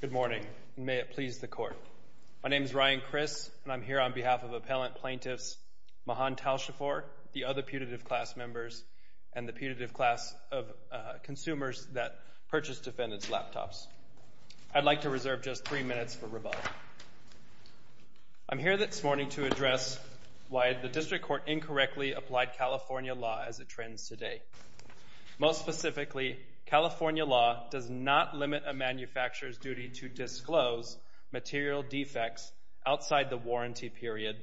Good morning, and may it please the Court. My name is Ryan Criss, and I'm here on behalf of appellant plaintiffs Mahan Taleshpour, the other putative class members, and the putative class of consumers that purchase defendant's laptops. I'd like to reserve just three minutes for rebuttal. I'm here this morning to address why the District Court incorrectly applied California law as it trends today. Most specifically, California law does not limit a manufacturer's duty to disclose material defects outside the warranty period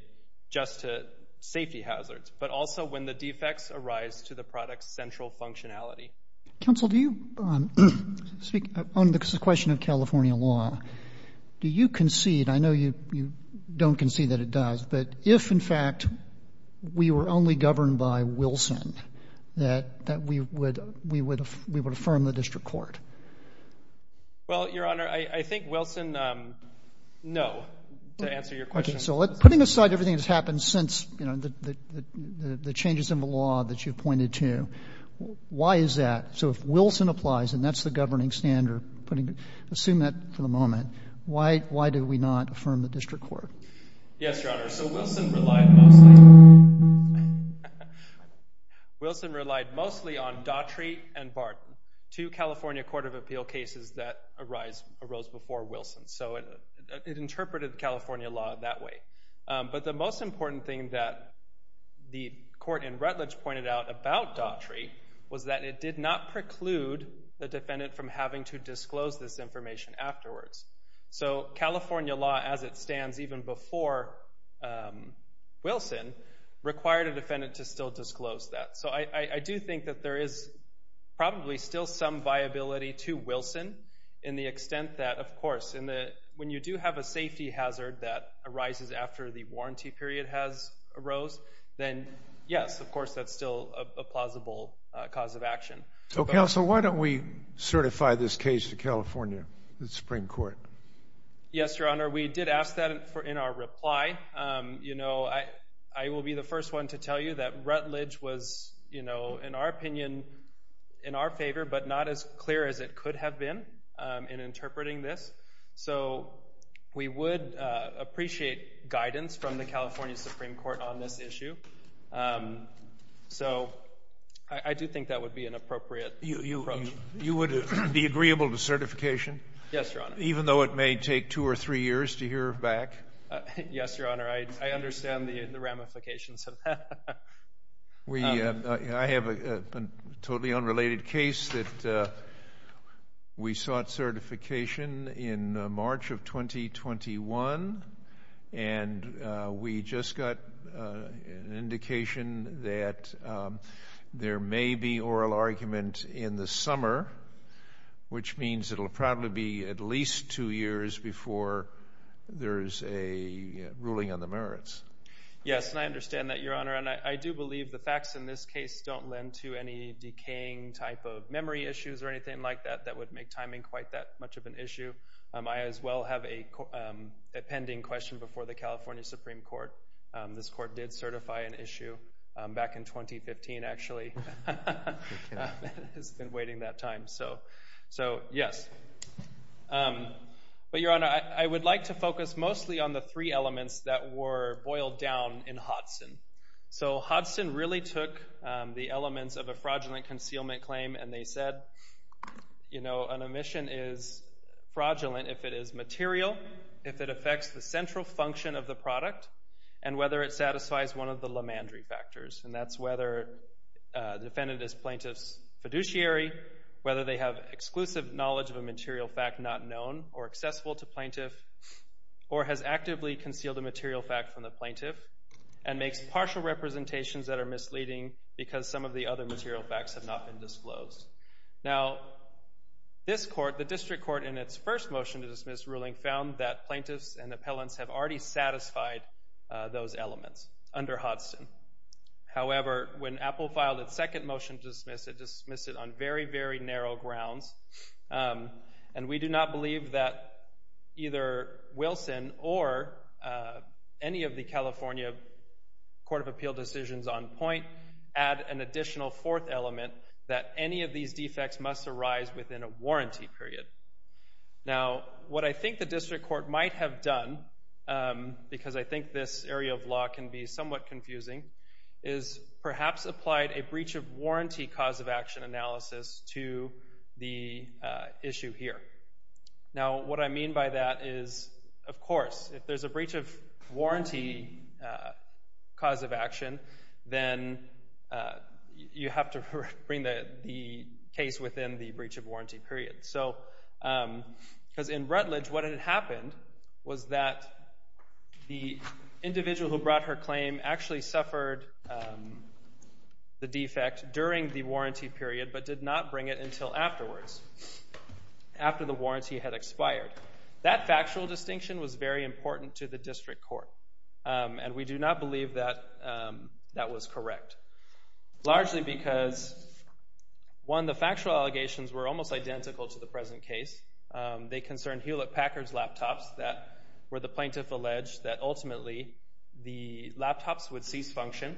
just to safety hazards, but also when the defects arise to the product's central functionality. Counsel, on the question of California law, do you concede? I know you don't concede that it does, but if, in fact, we were only governed by Wilson, that we would affirm the District Court? Well, Your Honor, I think Wilson, no, to answer your question. Okay, so putting aside everything that's happened since the changes in the law that you pointed to, why is that? So if Wilson applies, and that's the governing standard, assume that for the moment, why do we not affirm the District Court? Yes, Your Honor, so Wilson relied mostly on Daughtry and Barton, two California court of appeal cases that arose before Wilson, so it interpreted California law that way. But the most important thing that the court in Rutledge pointed out about Daughtry was that it did not preclude the defendant from having to disclose this information afterwards. So California law, as it stands even before Wilson, required a defendant to still disclose that. So I do think that there is probably still some viability to Wilson in the extent that, of course, when you do have a safety hazard that arises after the warranty period has arose, then, yes, of course, that's still a plausible cause of action. So, Counsel, why don't we certify this case to California, the Supreme Court? Yes, Your Honor, we did ask that in our reply. You know, I will be the first one to tell you that Rutledge was, you know, in our opinion, in our favor, but not as clear as it could have been in interpreting this. So we would appreciate guidance from the California Supreme Court on this issue. So I do think that would be an appropriate approach. You would be agreeable to certification? Yes, Your Honor. Even though it may take two or three years to hear back? Yes, Your Honor, I understand the ramifications of that. I have a totally unrelated case that we sought certification in March of 2021, and we just got an indication that there may be oral argument in the summer, which means it will probably be at least two years before there is a ruling on the merits. Yes, and I understand that, Your Honor. And I do believe the facts in this case don't lend to any decaying type of memory issues or anything like that that would make timing quite that much of an issue. I, as well, have a pending question before the California Supreme Court. This court did certify an issue back in 2015, actually. It's been waiting that time. So, yes. But, Your Honor, I would like to focus mostly on the three elements that were boiled down in Hodson. So Hodson really took the elements of a fraudulent concealment claim, and they said, you know, an omission is fraudulent if it is material, if it affects the central function of the product, and whether it satisfies one of the Lemandry factors, and that's whether the defendant is plaintiff's fiduciary, whether they have exclusive knowledge of a material fact not known or accessible to plaintiff, or has actively concealed a material fact from the plaintiff, and makes partial representations that are misleading because some of the other material facts have not been disclosed. Now, this court, the district court, in its first motion to dismiss ruling, found that plaintiffs and appellants have already satisfied those elements under Hodson. However, when Apple filed its second motion to dismiss, it dismissed it on very, very narrow grounds, and we do not believe that either Wilson or any of the California Court of Appeal decisions on point add an additional fourth element that any of these defects must arise within a warranty period. Now, what I think the district court might have done, because I think this area of law can be somewhat confusing, is perhaps applied a breach-of-warranty cause-of-action analysis to the issue here. Now, what I mean by that is, of course, if there's a breach-of-warranty cause-of-action, then you have to bring the case within the breach-of-warranty period. Because in Rutledge, what had happened was that the individual who brought her claim actually suffered the defect during the warranty period, but did not bring it until afterwards, after the warranty had expired. That factual distinction was very important to the district court, and we do not believe that that was correct, largely because, one, the factual allegations were almost identical to the present case. They concerned Hewlett-Packard's laptops that were the plaintiff alleged that ultimately the laptops would cease function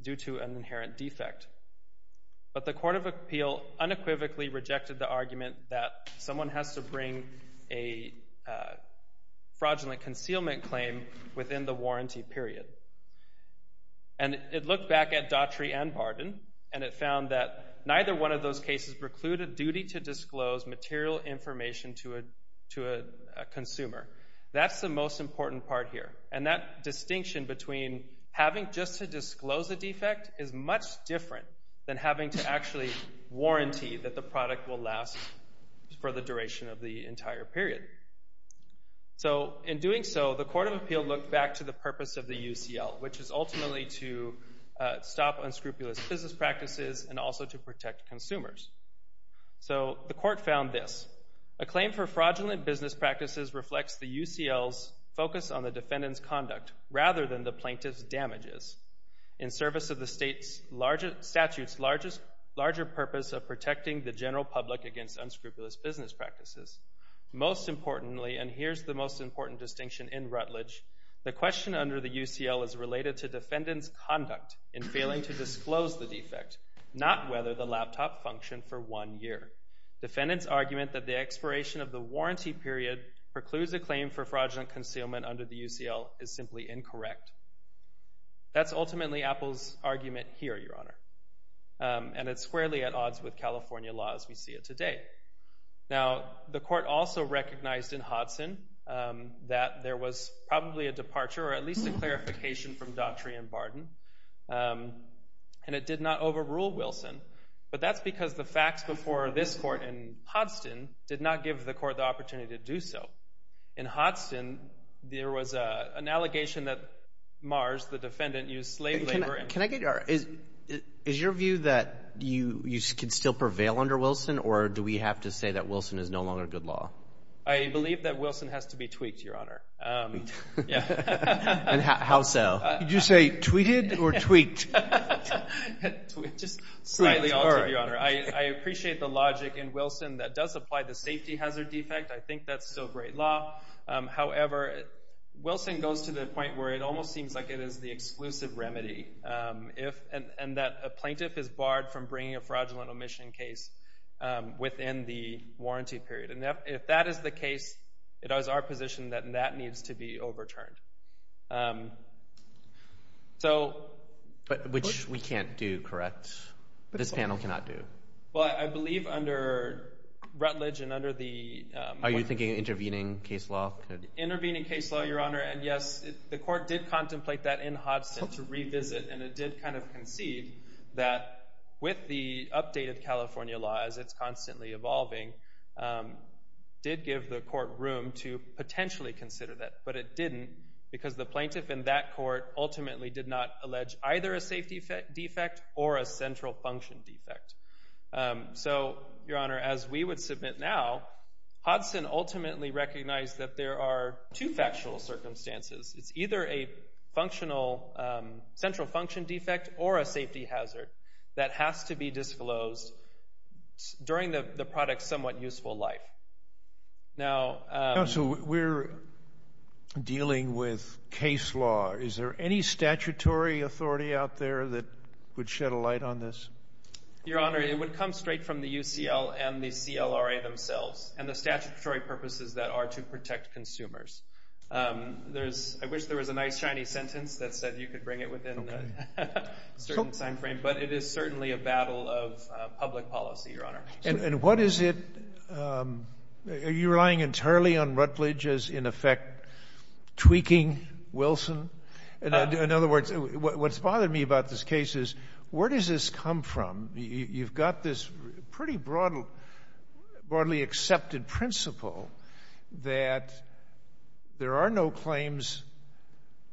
due to an inherent defect. But the Court of Appeal unequivocally rejected the argument that someone has to bring a fraudulent concealment claim within the warranty period. And it looked back at Daughtry and Barden, and it found that neither one of those cases precluded duty to disclose material information to a consumer. That's the most important part here. And that distinction between having just to disclose a defect is much different than having to actually warranty that the product will last for the duration of the entire period. So, in doing so, the Court of Appeal looked back to the purpose of the UCL, which is ultimately to stop unscrupulous business practices and also to protect consumers. So, the Court found this. A claim for fraudulent business practices reflects the UCL's focus on the defendant's conduct rather than the plaintiff's damages, in service of the statute's larger purpose of protecting the general public against unscrupulous business practices. Most importantly, and here's the most important distinction in Rutledge, the question under the UCL is related to defendant's conduct in failing to disclose the defect, not whether the laptop functioned for one year. Defendant's argument that the expiration of the warranty period precludes a claim for fraudulent concealment under the UCL is simply incorrect. That's ultimately Apple's argument here, Your Honor. And it's squarely at odds with California law as we see it today. Now, the court also recognized in Hodson that there was probably a departure or at least a clarification from Daughtry and Barden. And it did not overrule Wilson. But that's because the facts before this court in Hodson did not give the court the opportunity to do so. In Hodson, there was an allegation that Mars, the defendant, used slave labor. Is your view that you can still prevail under Wilson or do we have to say that Wilson is no longer good law? I believe that Wilson has to be tweaked, Your Honor. And how so? Did you say tweeted or tweaked? Just slightly altered, Your Honor. I appreciate the logic in Wilson that does apply the safety hazard defect. I think that's still great law. However, Wilson goes to the point where it almost seems like it is the exclusive remedy and that a plaintiff is barred from bringing a fraudulent omission case within the warranty period. And if that is the case, it is our position that that needs to be overturned. But which we can't do, correct? This panel cannot do? Well, I believe under Rutledge and under the— Intervening case law, Your Honor. And yes, the court did contemplate that in Hodson to revisit and it did kind of concede that with the updated California law, as it's constantly evolving, did give the court room to potentially consider that. But it didn't because the plaintiff in that court ultimately did not allege either a safety defect or a central function defect. So, Your Honor, as we would submit now, Hodson ultimately recognized that there are two factual circumstances. It's either a central function defect or a safety hazard that has to be disclosed during the product's somewhat useful life. Now— Counsel, we're dealing with case law. Is there any statutory authority out there that would shed a light on this? Your Honor, it would come straight from the UCL and the CLRA themselves and the statutory purposes that are to protect consumers. I wish there was a nice shiny sentence that said you could bring it within a certain time frame, but it is certainly a battle of public policy, Your Honor. And what is it—are you relying entirely on Rutledge as, in effect, tweaking Wilson? In other words, what's bothered me about this case is where does this come from? You've got this pretty broadly accepted principle that there are no claims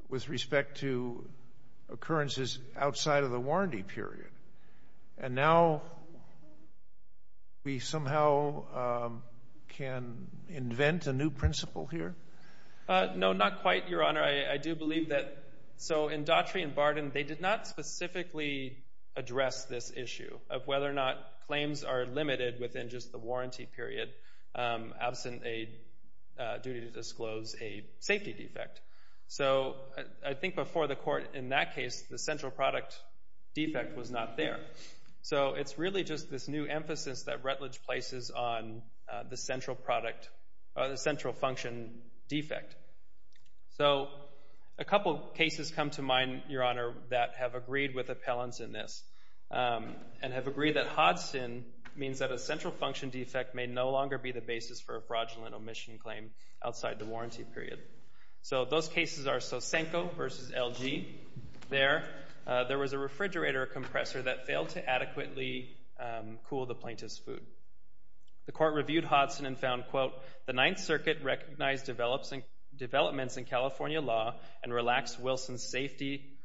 with respect to occurrences outside of the warranty period. And now we somehow can invent a new principle here? No, not quite, Your Honor. I do believe that—so in Daughtry and Barden, they did not specifically address this issue of whether or not claims are limited within just the warranty period absent a duty to disclose a safety defect. So I think before the court in that case, the central product defect was not there. So it's really just this new emphasis that Rutledge places on the central function defect. So a couple cases come to mind, Your Honor, that have agreed with appellants in this and have agreed that Hodson means that a central function defect may no longer be the basis for a fraudulent omission claim outside the warranty period. So those cases are Sosenko versus LG. There was a refrigerator compressor that failed to adequately cool the plaintiff's food. The court reviewed Hodson and found, quote, the Ninth Circuit recognized developments in California law and relaxed Wilson's safety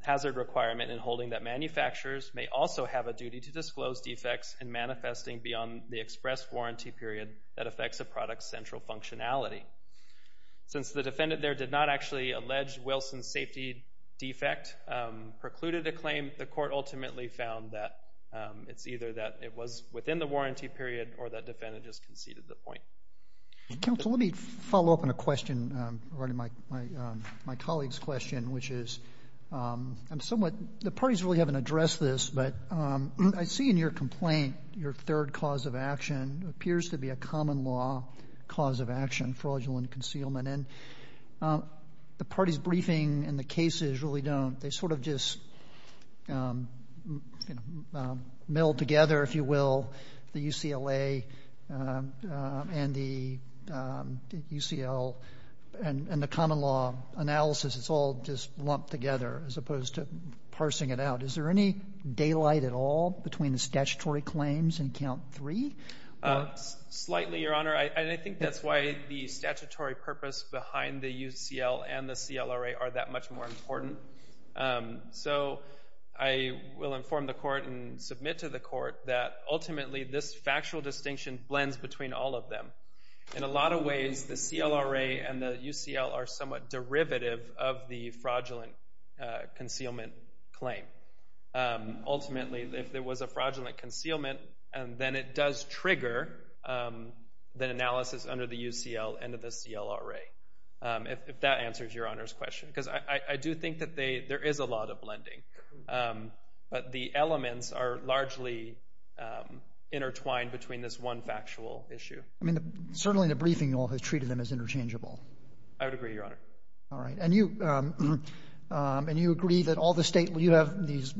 hazard requirement in holding that manufacturers may also have a duty to disclose defects in manifesting beyond the express warranty period that affects a product's central functionality. Since the defendant there did not actually allege Wilson's safety defect precluded a claim, the court ultimately found that it's either that it was within the warranty period or that defendant just conceded the point. Counsel, let me follow up on a question regarding my colleague's question, which is I'm somewhat the parties really haven't addressed this, but I see in your complaint your third cause of action appears to be a common law cause of action, fraudulent concealment. And the parties' briefing and the cases really don't. They sort of just mill together, if you will, the UCLA and the UCL and the common law analysis, it's all just lumped together as opposed to parsing it out. Is there any daylight at all between the statutory claims in count three? Slightly, Your Honor, and I think that's why the statutory purpose behind the UCL and the CLRA are that much more important. So I will inform the court and submit to the court that ultimately this factual distinction blends between all of them. In a lot of ways, the CLRA and the UCL are somewhat derivative of the fraudulent concealment claim. Ultimately, if there was a fraudulent concealment, then it does trigger the analysis under the UCL and the CLRA, if that answers Your Honor's question, because I do think that there is a lot of blending. But the elements are largely intertwined between this one factual issue. I mean, certainly the briefing law has treated them as interchangeable. I would agree, Your Honor. All right. And you agree that all the state, you have these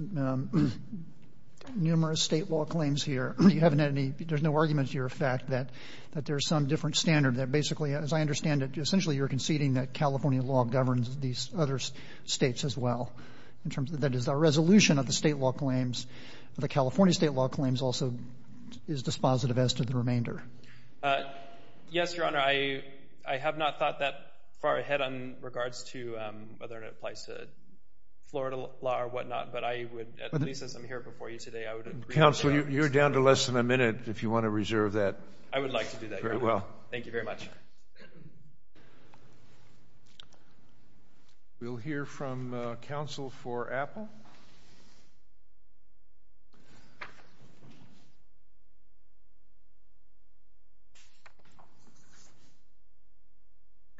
numerous state law claims here. You haven't had any, there's no argument to your effect that there's some different standard that basically, as I understand it, essentially you're conceding that California law governs these other states as well in terms of that is our resolution of the state law claims. The California state law claims also is dispositive as to the remainder. Yes, Your Honor. I have not thought that far ahead in regards to whether it applies to Florida law or whatnot. But I would, at least as I'm here before you today, I would agree with that. Counsel, you're down to less than a minute if you want to reserve that. I would like to do that, Your Honor. Very well. Thank you very much. We'll hear from counsel for Apple.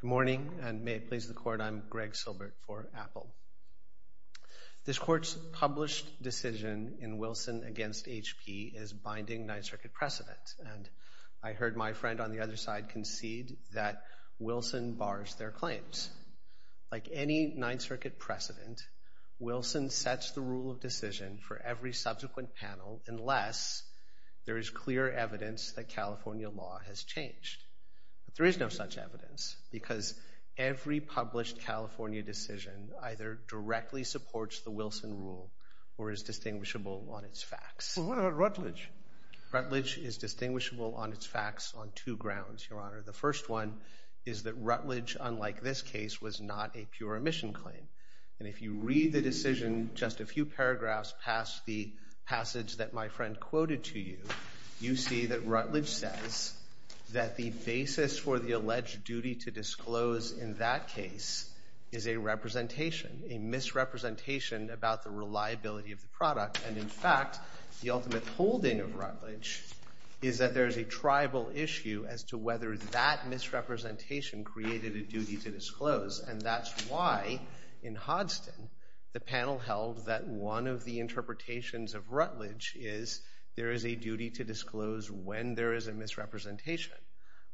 Good morning, and may it please the Court. I'm Greg Silbert for Apple. This Court's published decision in Wilson against HP is binding Ninth Circuit precedent. I heard my friend on the other side concede that Wilson bars their claims. Like any Ninth Circuit precedent, Wilson sets the rule of decision for every subsequent panel unless there is clear evidence that California law has changed. But there is no such evidence because every published California decision either directly supports the Wilson rule or is distinguishable on its facts. What about Rutledge? Rutledge is distinguishable on its facts on two grounds, Your Honor. The first one is that Rutledge, unlike this case, was not a pure omission claim. And if you read the decision just a few paragraphs past the passage that my friend quoted to you, you see that Rutledge says that the basis for the alleged duty to disclose in that case is a representation, a misrepresentation about the reliability of the product. And in fact, the ultimate holding of Rutledge is that there is a tribal issue as to whether that misrepresentation created a duty to disclose. And that's why in Hodgson the panel held that one of the interpretations of Rutledge is there is a duty to disclose when there is a misrepresentation.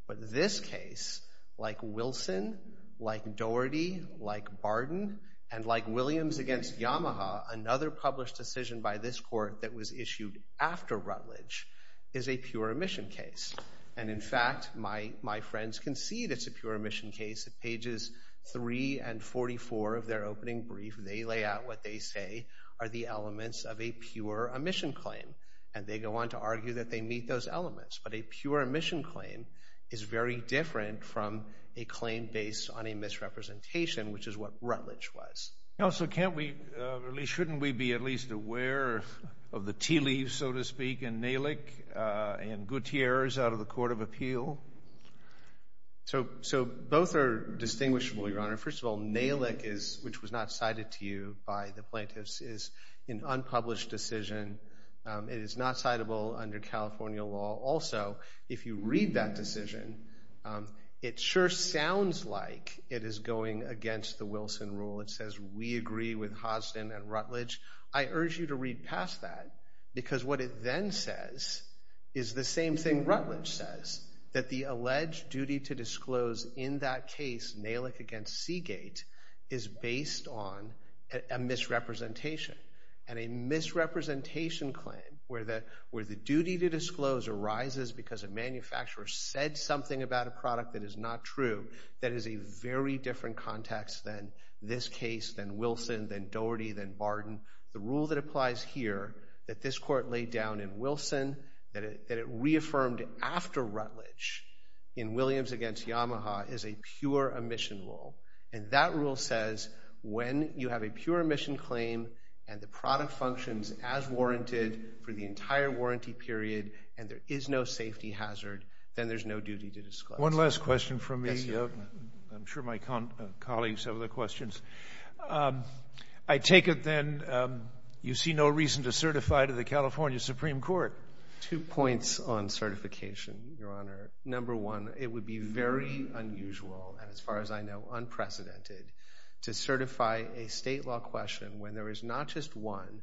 But this case, like Wilson, like Doherty, like Barden, and like Williams against Yamaha, another published decision by this court that was issued after Rutledge is a pure omission case. And in fact, my friends concede it's a pure omission case. At pages 3 and 44 of their opening brief, they lay out what they say are the elements of a pure omission claim. And they go on to argue that they meet those elements. But a pure omission claim is very different from a claim based on a misrepresentation, which is what Rutledge was. Counsel, shouldn't we be at least aware of the tea leaves, so to speak, in Nalick and Gutierrez out of the court of appeal? So both are distinguishable, Your Honor. First of all, Nalick, which was not cited to you by the plaintiffs, is an unpublished decision. It is not citable under California law. Also, if you read that decision, it sure sounds like it is going against the Wilson rule. It says we agree with Hosden and Rutledge. I urge you to read past that because what it then says is the same thing Rutledge says, that the alleged duty to disclose in that case, Nalick against Seagate, is based on a misrepresentation. And a misrepresentation claim where the duty to disclose arises because a manufacturer said something about a product that is not true, that is a very different context than this case, than Wilson, than Doherty, than Barden. The rule that applies here that this court laid down in Wilson, that it reaffirmed after Rutledge in Williams against Yamaha, is a pure omission rule. And that rule says when you have a pure omission claim and the product functions as warranted for the entire warranty period and there is no safety hazard, then there is no duty to disclose. One last question from me. I'm sure my colleagues have other questions. I take it then you see no reason to certify to the California Supreme Court. Two points on certification, Your Honor. Number one, it would be very unusual, and as far as I know, unprecedented, to certify a state law question when there is not just one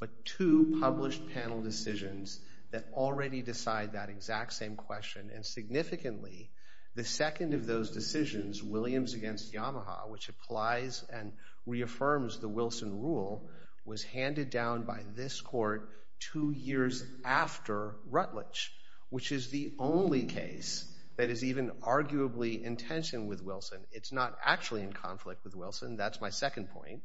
but two published panel decisions that already decide that exact same question. And significantly, the second of those decisions, Williams against Yamaha, which applies and reaffirms the Wilson rule, was handed down by this court two years after Rutledge, which is the only case that is even arguably in tension with Wilson. It's not actually in conflict with Wilson. That's my second point.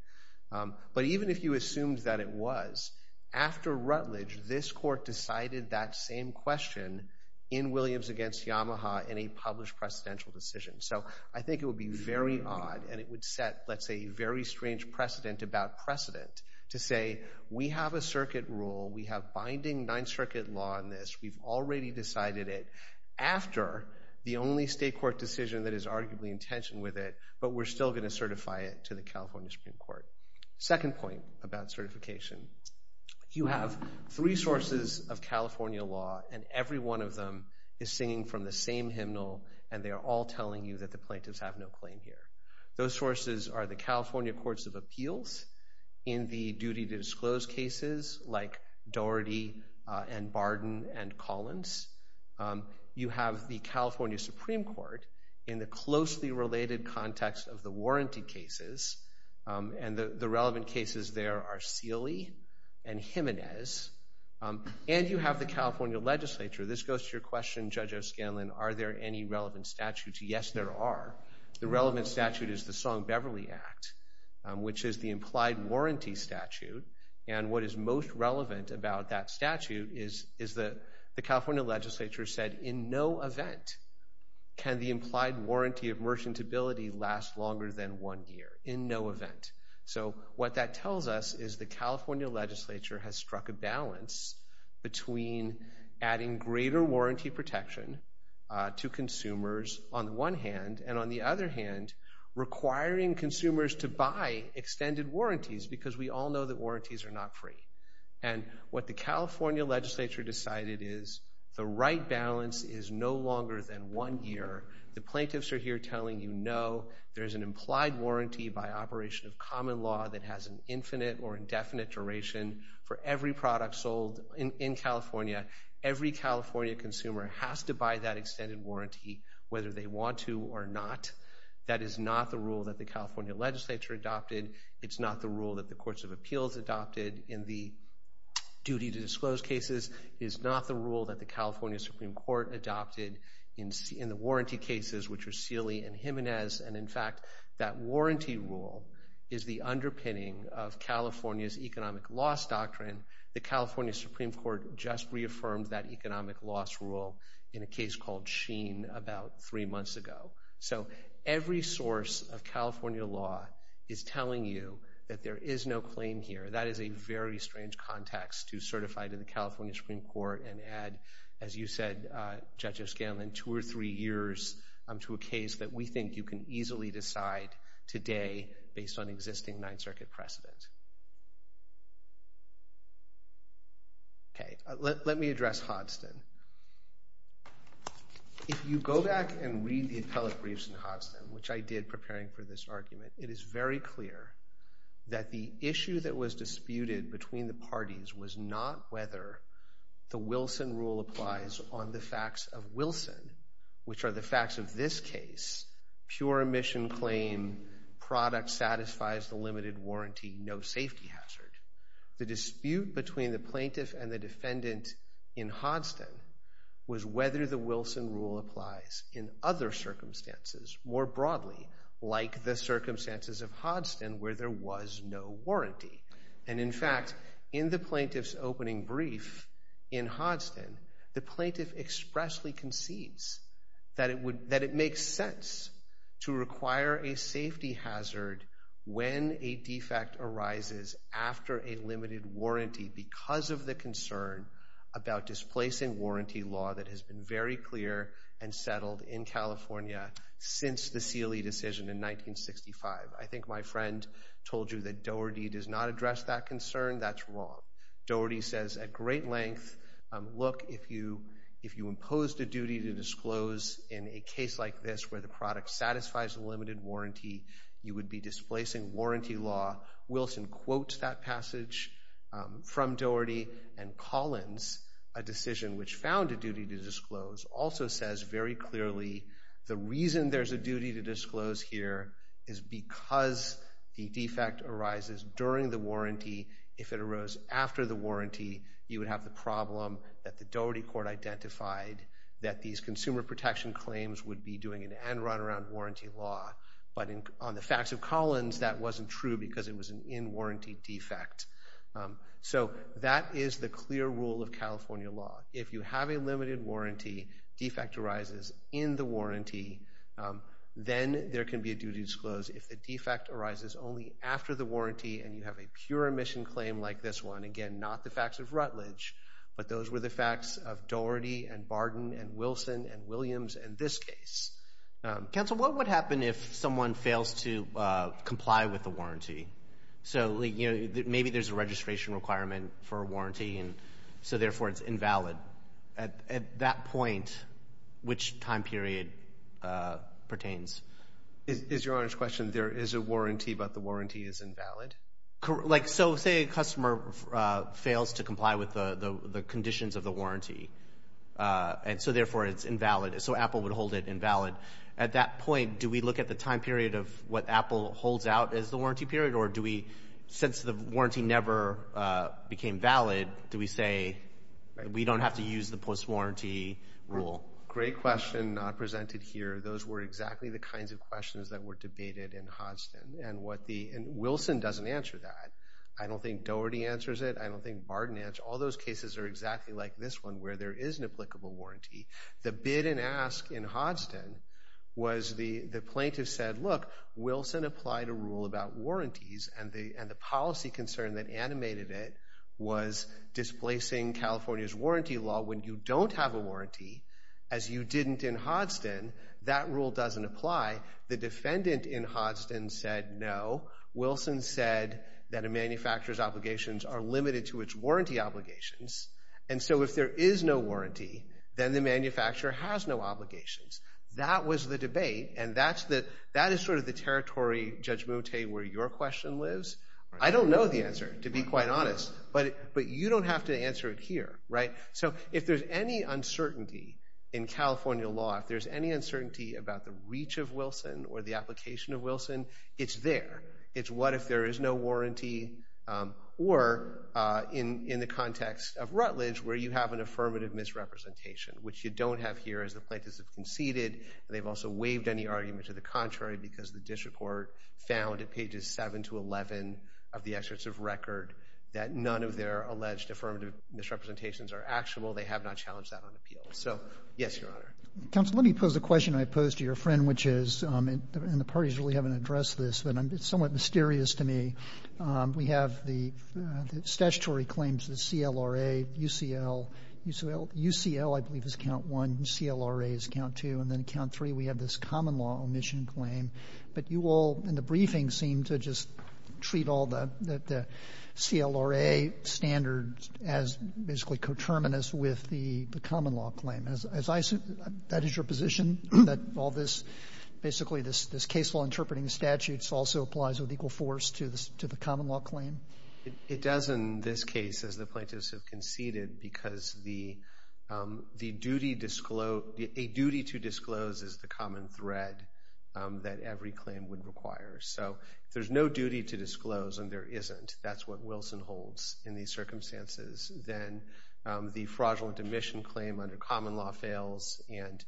But even if you assumed that it was, after Rutledge, this court decided that same question in Williams against Yamaha in a published presidential decision. So I think it would be very odd and it would set, let's say, a very strange precedent about precedent to say we have a circuit rule, we have binding Ninth Circuit law on this, we've already decided it after the only state court decision that is arguably in tension with it, but we're still going to certify it to the California Supreme Court. Second point about certification, you have three sources of California law and every one of them is singing from the same hymnal and they are all telling you that the plaintiffs have no claim here. Those sources are the California Courts of Appeals in the duty-to-disclose cases like Doherty and Barden and Collins. You have the California Supreme Court in the closely related context of the warranty cases and the relevant cases there are Seeley and Jimenez. And you have the California legislature. This goes to your question, Judge O'Scanlan, are there any relevant statutes? Yes, there are. The relevant statute is the Song-Beverly Act, which is the implied warranty statute and what is most relevant about that statute is the California legislature said in no event can the implied warranty of merchantability last longer than one year, in no event. So what that tells us is the California legislature has struck a balance between adding greater warranty protection to consumers on the one hand and on the other hand requiring consumers to buy extended warranties because we all know that warranties are not free. And what the California legislature decided is the right balance is no longer than one year. The plaintiffs are here telling you no, there is an implied warranty by operation of common law that has an infinite or indefinite duration for every product sold in California. Every California consumer has to buy that extended warranty whether they want to or not. That is not the rule that the California legislature adopted. It is not the rule that the courts of appeals adopted in the duty to disclose cases. It is not the rule that the California Supreme Court adopted in the warranty cases, which are Seeley and Jimenez. And in fact, that warranty rule is the underpinning of California's economic loss doctrine. The California Supreme Court just reaffirmed that economic loss rule in a case called Sheen about three months ago. So every source of California law is telling you that there is no claim here. That is a very strange context to certify to the California Supreme Court and add, as you said, Judge O'Scanlan, two or three years to a case that we think you can easily decide today based on existing Ninth Circuit precedent. Okay, let me address Hodson. If you go back and read the appellate briefs in Hodson, which I did preparing for this argument, it is very clear that the issue that was disputed between the parties was not whether the Wilson rule applies on the facts of Wilson, which are the facts of this case, pure emission claim, product satisfies the limited warranty, no safety hazard. The dispute between the plaintiff and the defendant in Hodson was whether the Wilson rule applies in other circumstances more broadly, like the circumstances of Hodson where there was no warranty. And in fact, in the plaintiff's opening brief in Hodson, the plaintiff expressly concedes that it makes sense to require a safety hazard when a defect arises after a limited warranty because of the concern about displacing warranty law that has been very clear and settled in California since the Seeley decision in 1965. I think my friend told you that Doherty does not address that concern. That's wrong. Doherty says at great length, look, if you impose the duty to disclose in a case like this where the product satisfies the limited warranty, you would be displacing warranty law. Wilson quotes that passage from Doherty. And Collins, a decision which found a duty to disclose, also says very clearly the reason there's a duty to disclose here is because the defect arises during the warranty. If it arose after the warranty, you would have the problem that the Doherty court identified that these consumer protection claims would be doing an end-run-around warranty law. But on the facts of Collins, that wasn't true because it was an in-warranty defect. So that is the clear rule of California law. If you have a limited warranty, defect arises in the warranty, then there can be a duty to disclose. If the defect arises only after the warranty and you have a pure emission claim like this one, again, not the facts of Rutledge, but those were the facts of Doherty and Barden and Wilson and Williams in this case. Counsel, what would happen if someone fails to comply with the warranty? So maybe there's a registration requirement for a warranty, and so therefore it's invalid. At that point, which time period pertains? Is Your Honor's question there is a warranty, but the warranty is invalid? So say a customer fails to comply with the conditions of the warranty, and so therefore it's invalid. So Apple would hold it invalid. At that point, do we look at the time period of what Apple holds out as the warranty period, or do we, since the warranty never became valid, do we say we don't have to use the post-warranty rule? Great question presented here. Those were exactly the kinds of questions that were debated in Hodgson. Wilson doesn't answer that. I don't think Doherty answers it. I don't think Barden answers it. All those cases are exactly like this one where there is an applicable warranty. The bid and ask in Hodgson was the plaintiff said, look, Wilson applied a rule about warranties, and the policy concern that animated it was displacing California's warranty law. When you don't have a warranty, as you didn't in Hodgson, that rule doesn't apply. The defendant in Hodgson said no. Wilson said that a manufacturer's obligations are limited to its warranty obligations, and so if there is no warranty, then the manufacturer has no obligations. That was the debate, and that is sort of the territory, Judge Mote, where your question lives. I don't know the answer, to be quite honest, but you don't have to answer it here, right? So if there's any uncertainty in California law, if there's any uncertainty about the reach of Wilson or the application of Wilson, it's there. It's what if there is no warranty, or in the context of Rutledge, where you have an affirmative misrepresentation, which you don't have here as the plaintiffs have conceded. They've also waived any argument to the contrary because the district court found at pages 7 to 11 of the excerpts of record that none of their alleged affirmative misrepresentations are actual. They have not challenged that on appeal. So, yes, Your Honor. Counsel, let me pose a question I posed to your friend, which is, and the parties really haven't addressed this, but it's somewhat mysterious to me. We have the statutory claims, the CLRA, UCL. UCL, I believe, is count one. CLRA is count two. And then count three, we have this common law omission claim. But you all, in the briefing, seem to just treat all the CLRA standards as basically coterminous with the common law claim. That is your position, that all this, basically this case law interpreting statute also applies with equal force to the common law claim? It does in this case, as the plaintiffs have conceded, because a duty to disclose is the common thread that every claim would require. So if there's no duty to disclose and there isn't, that's what Wilson holds in these circumstances, then the fraudulent omission claim under common law fails, and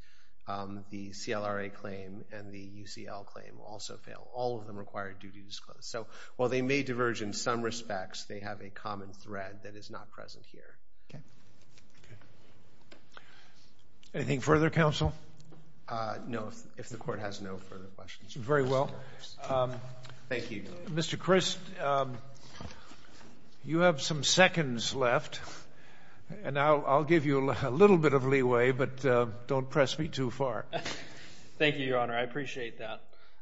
the CLRA claim and the UCL claim also fail. All of them require a duty to disclose. So while they may diverge in some respects, they have a common thread that is not present here. Okay. Anything further, counsel? No, if the Court has no further questions. Very well. Thank you. Mr. Christ, you have some seconds left, and I'll give you a little bit of leeway, but don't press me too far. Thank you, Your Honor. I appreciate that.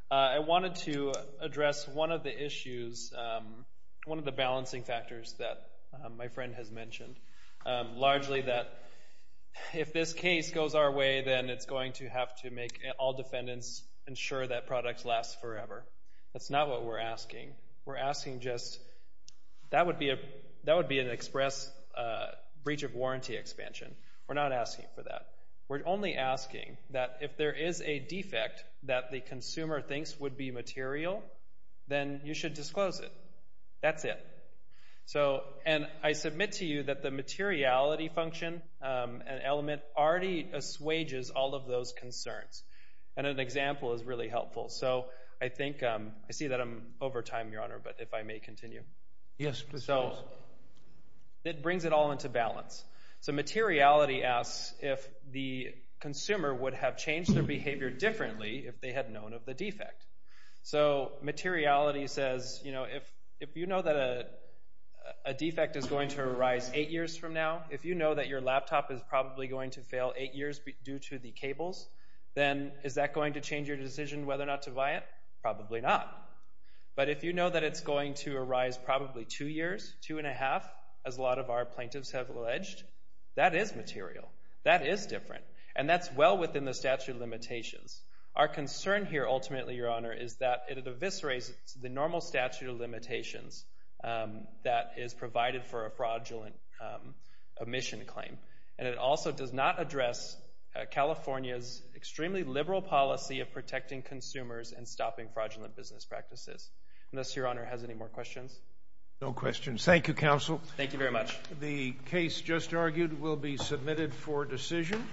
I wanted to address one of the issues, one of the balancing factors that my friend has mentioned, largely that if this case goes our way, then it's going to have to make all defendants ensure that product lasts forever. That's not what we're asking. We're asking just that would be an express breach of warranty expansion. We're not asking for that. We're only asking that if there is a defect that the consumer thinks would be material, then you should disclose it. That's it. And I submit to you that the materiality function and element already assuages all of those concerns, and an example is really helpful. So I think I see that I'm over time, Your Honor, but if I may continue. Yes, please. It brings it all into balance. So materiality asks if the consumer would have changed their behavior differently if they had known of the defect. So materiality says, you know, if you know that a defect is going to arise eight years from now, if you know that your laptop is probably going to fail eight years due to the cables, then is that going to change your decision whether or not to buy it? Probably not. But if you know that it's going to arise probably two years, two and a half, as a lot of our plaintiffs have alleged, that is material, that is different, and that's well within the statute of limitations. Our concern here ultimately, Your Honor, is that it eviscerates the normal statute of limitations that is provided for a fraudulent omission claim, and it also does not address California's extremely liberal policy of protecting consumers and stopping fraudulent business practices. Unless Your Honor has any more questions. No questions. Thank you, counsel. Thank you very much. The case just argued will be submitted for decision,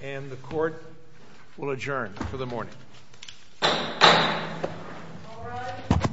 and the court will adjourn for the morning. All rise.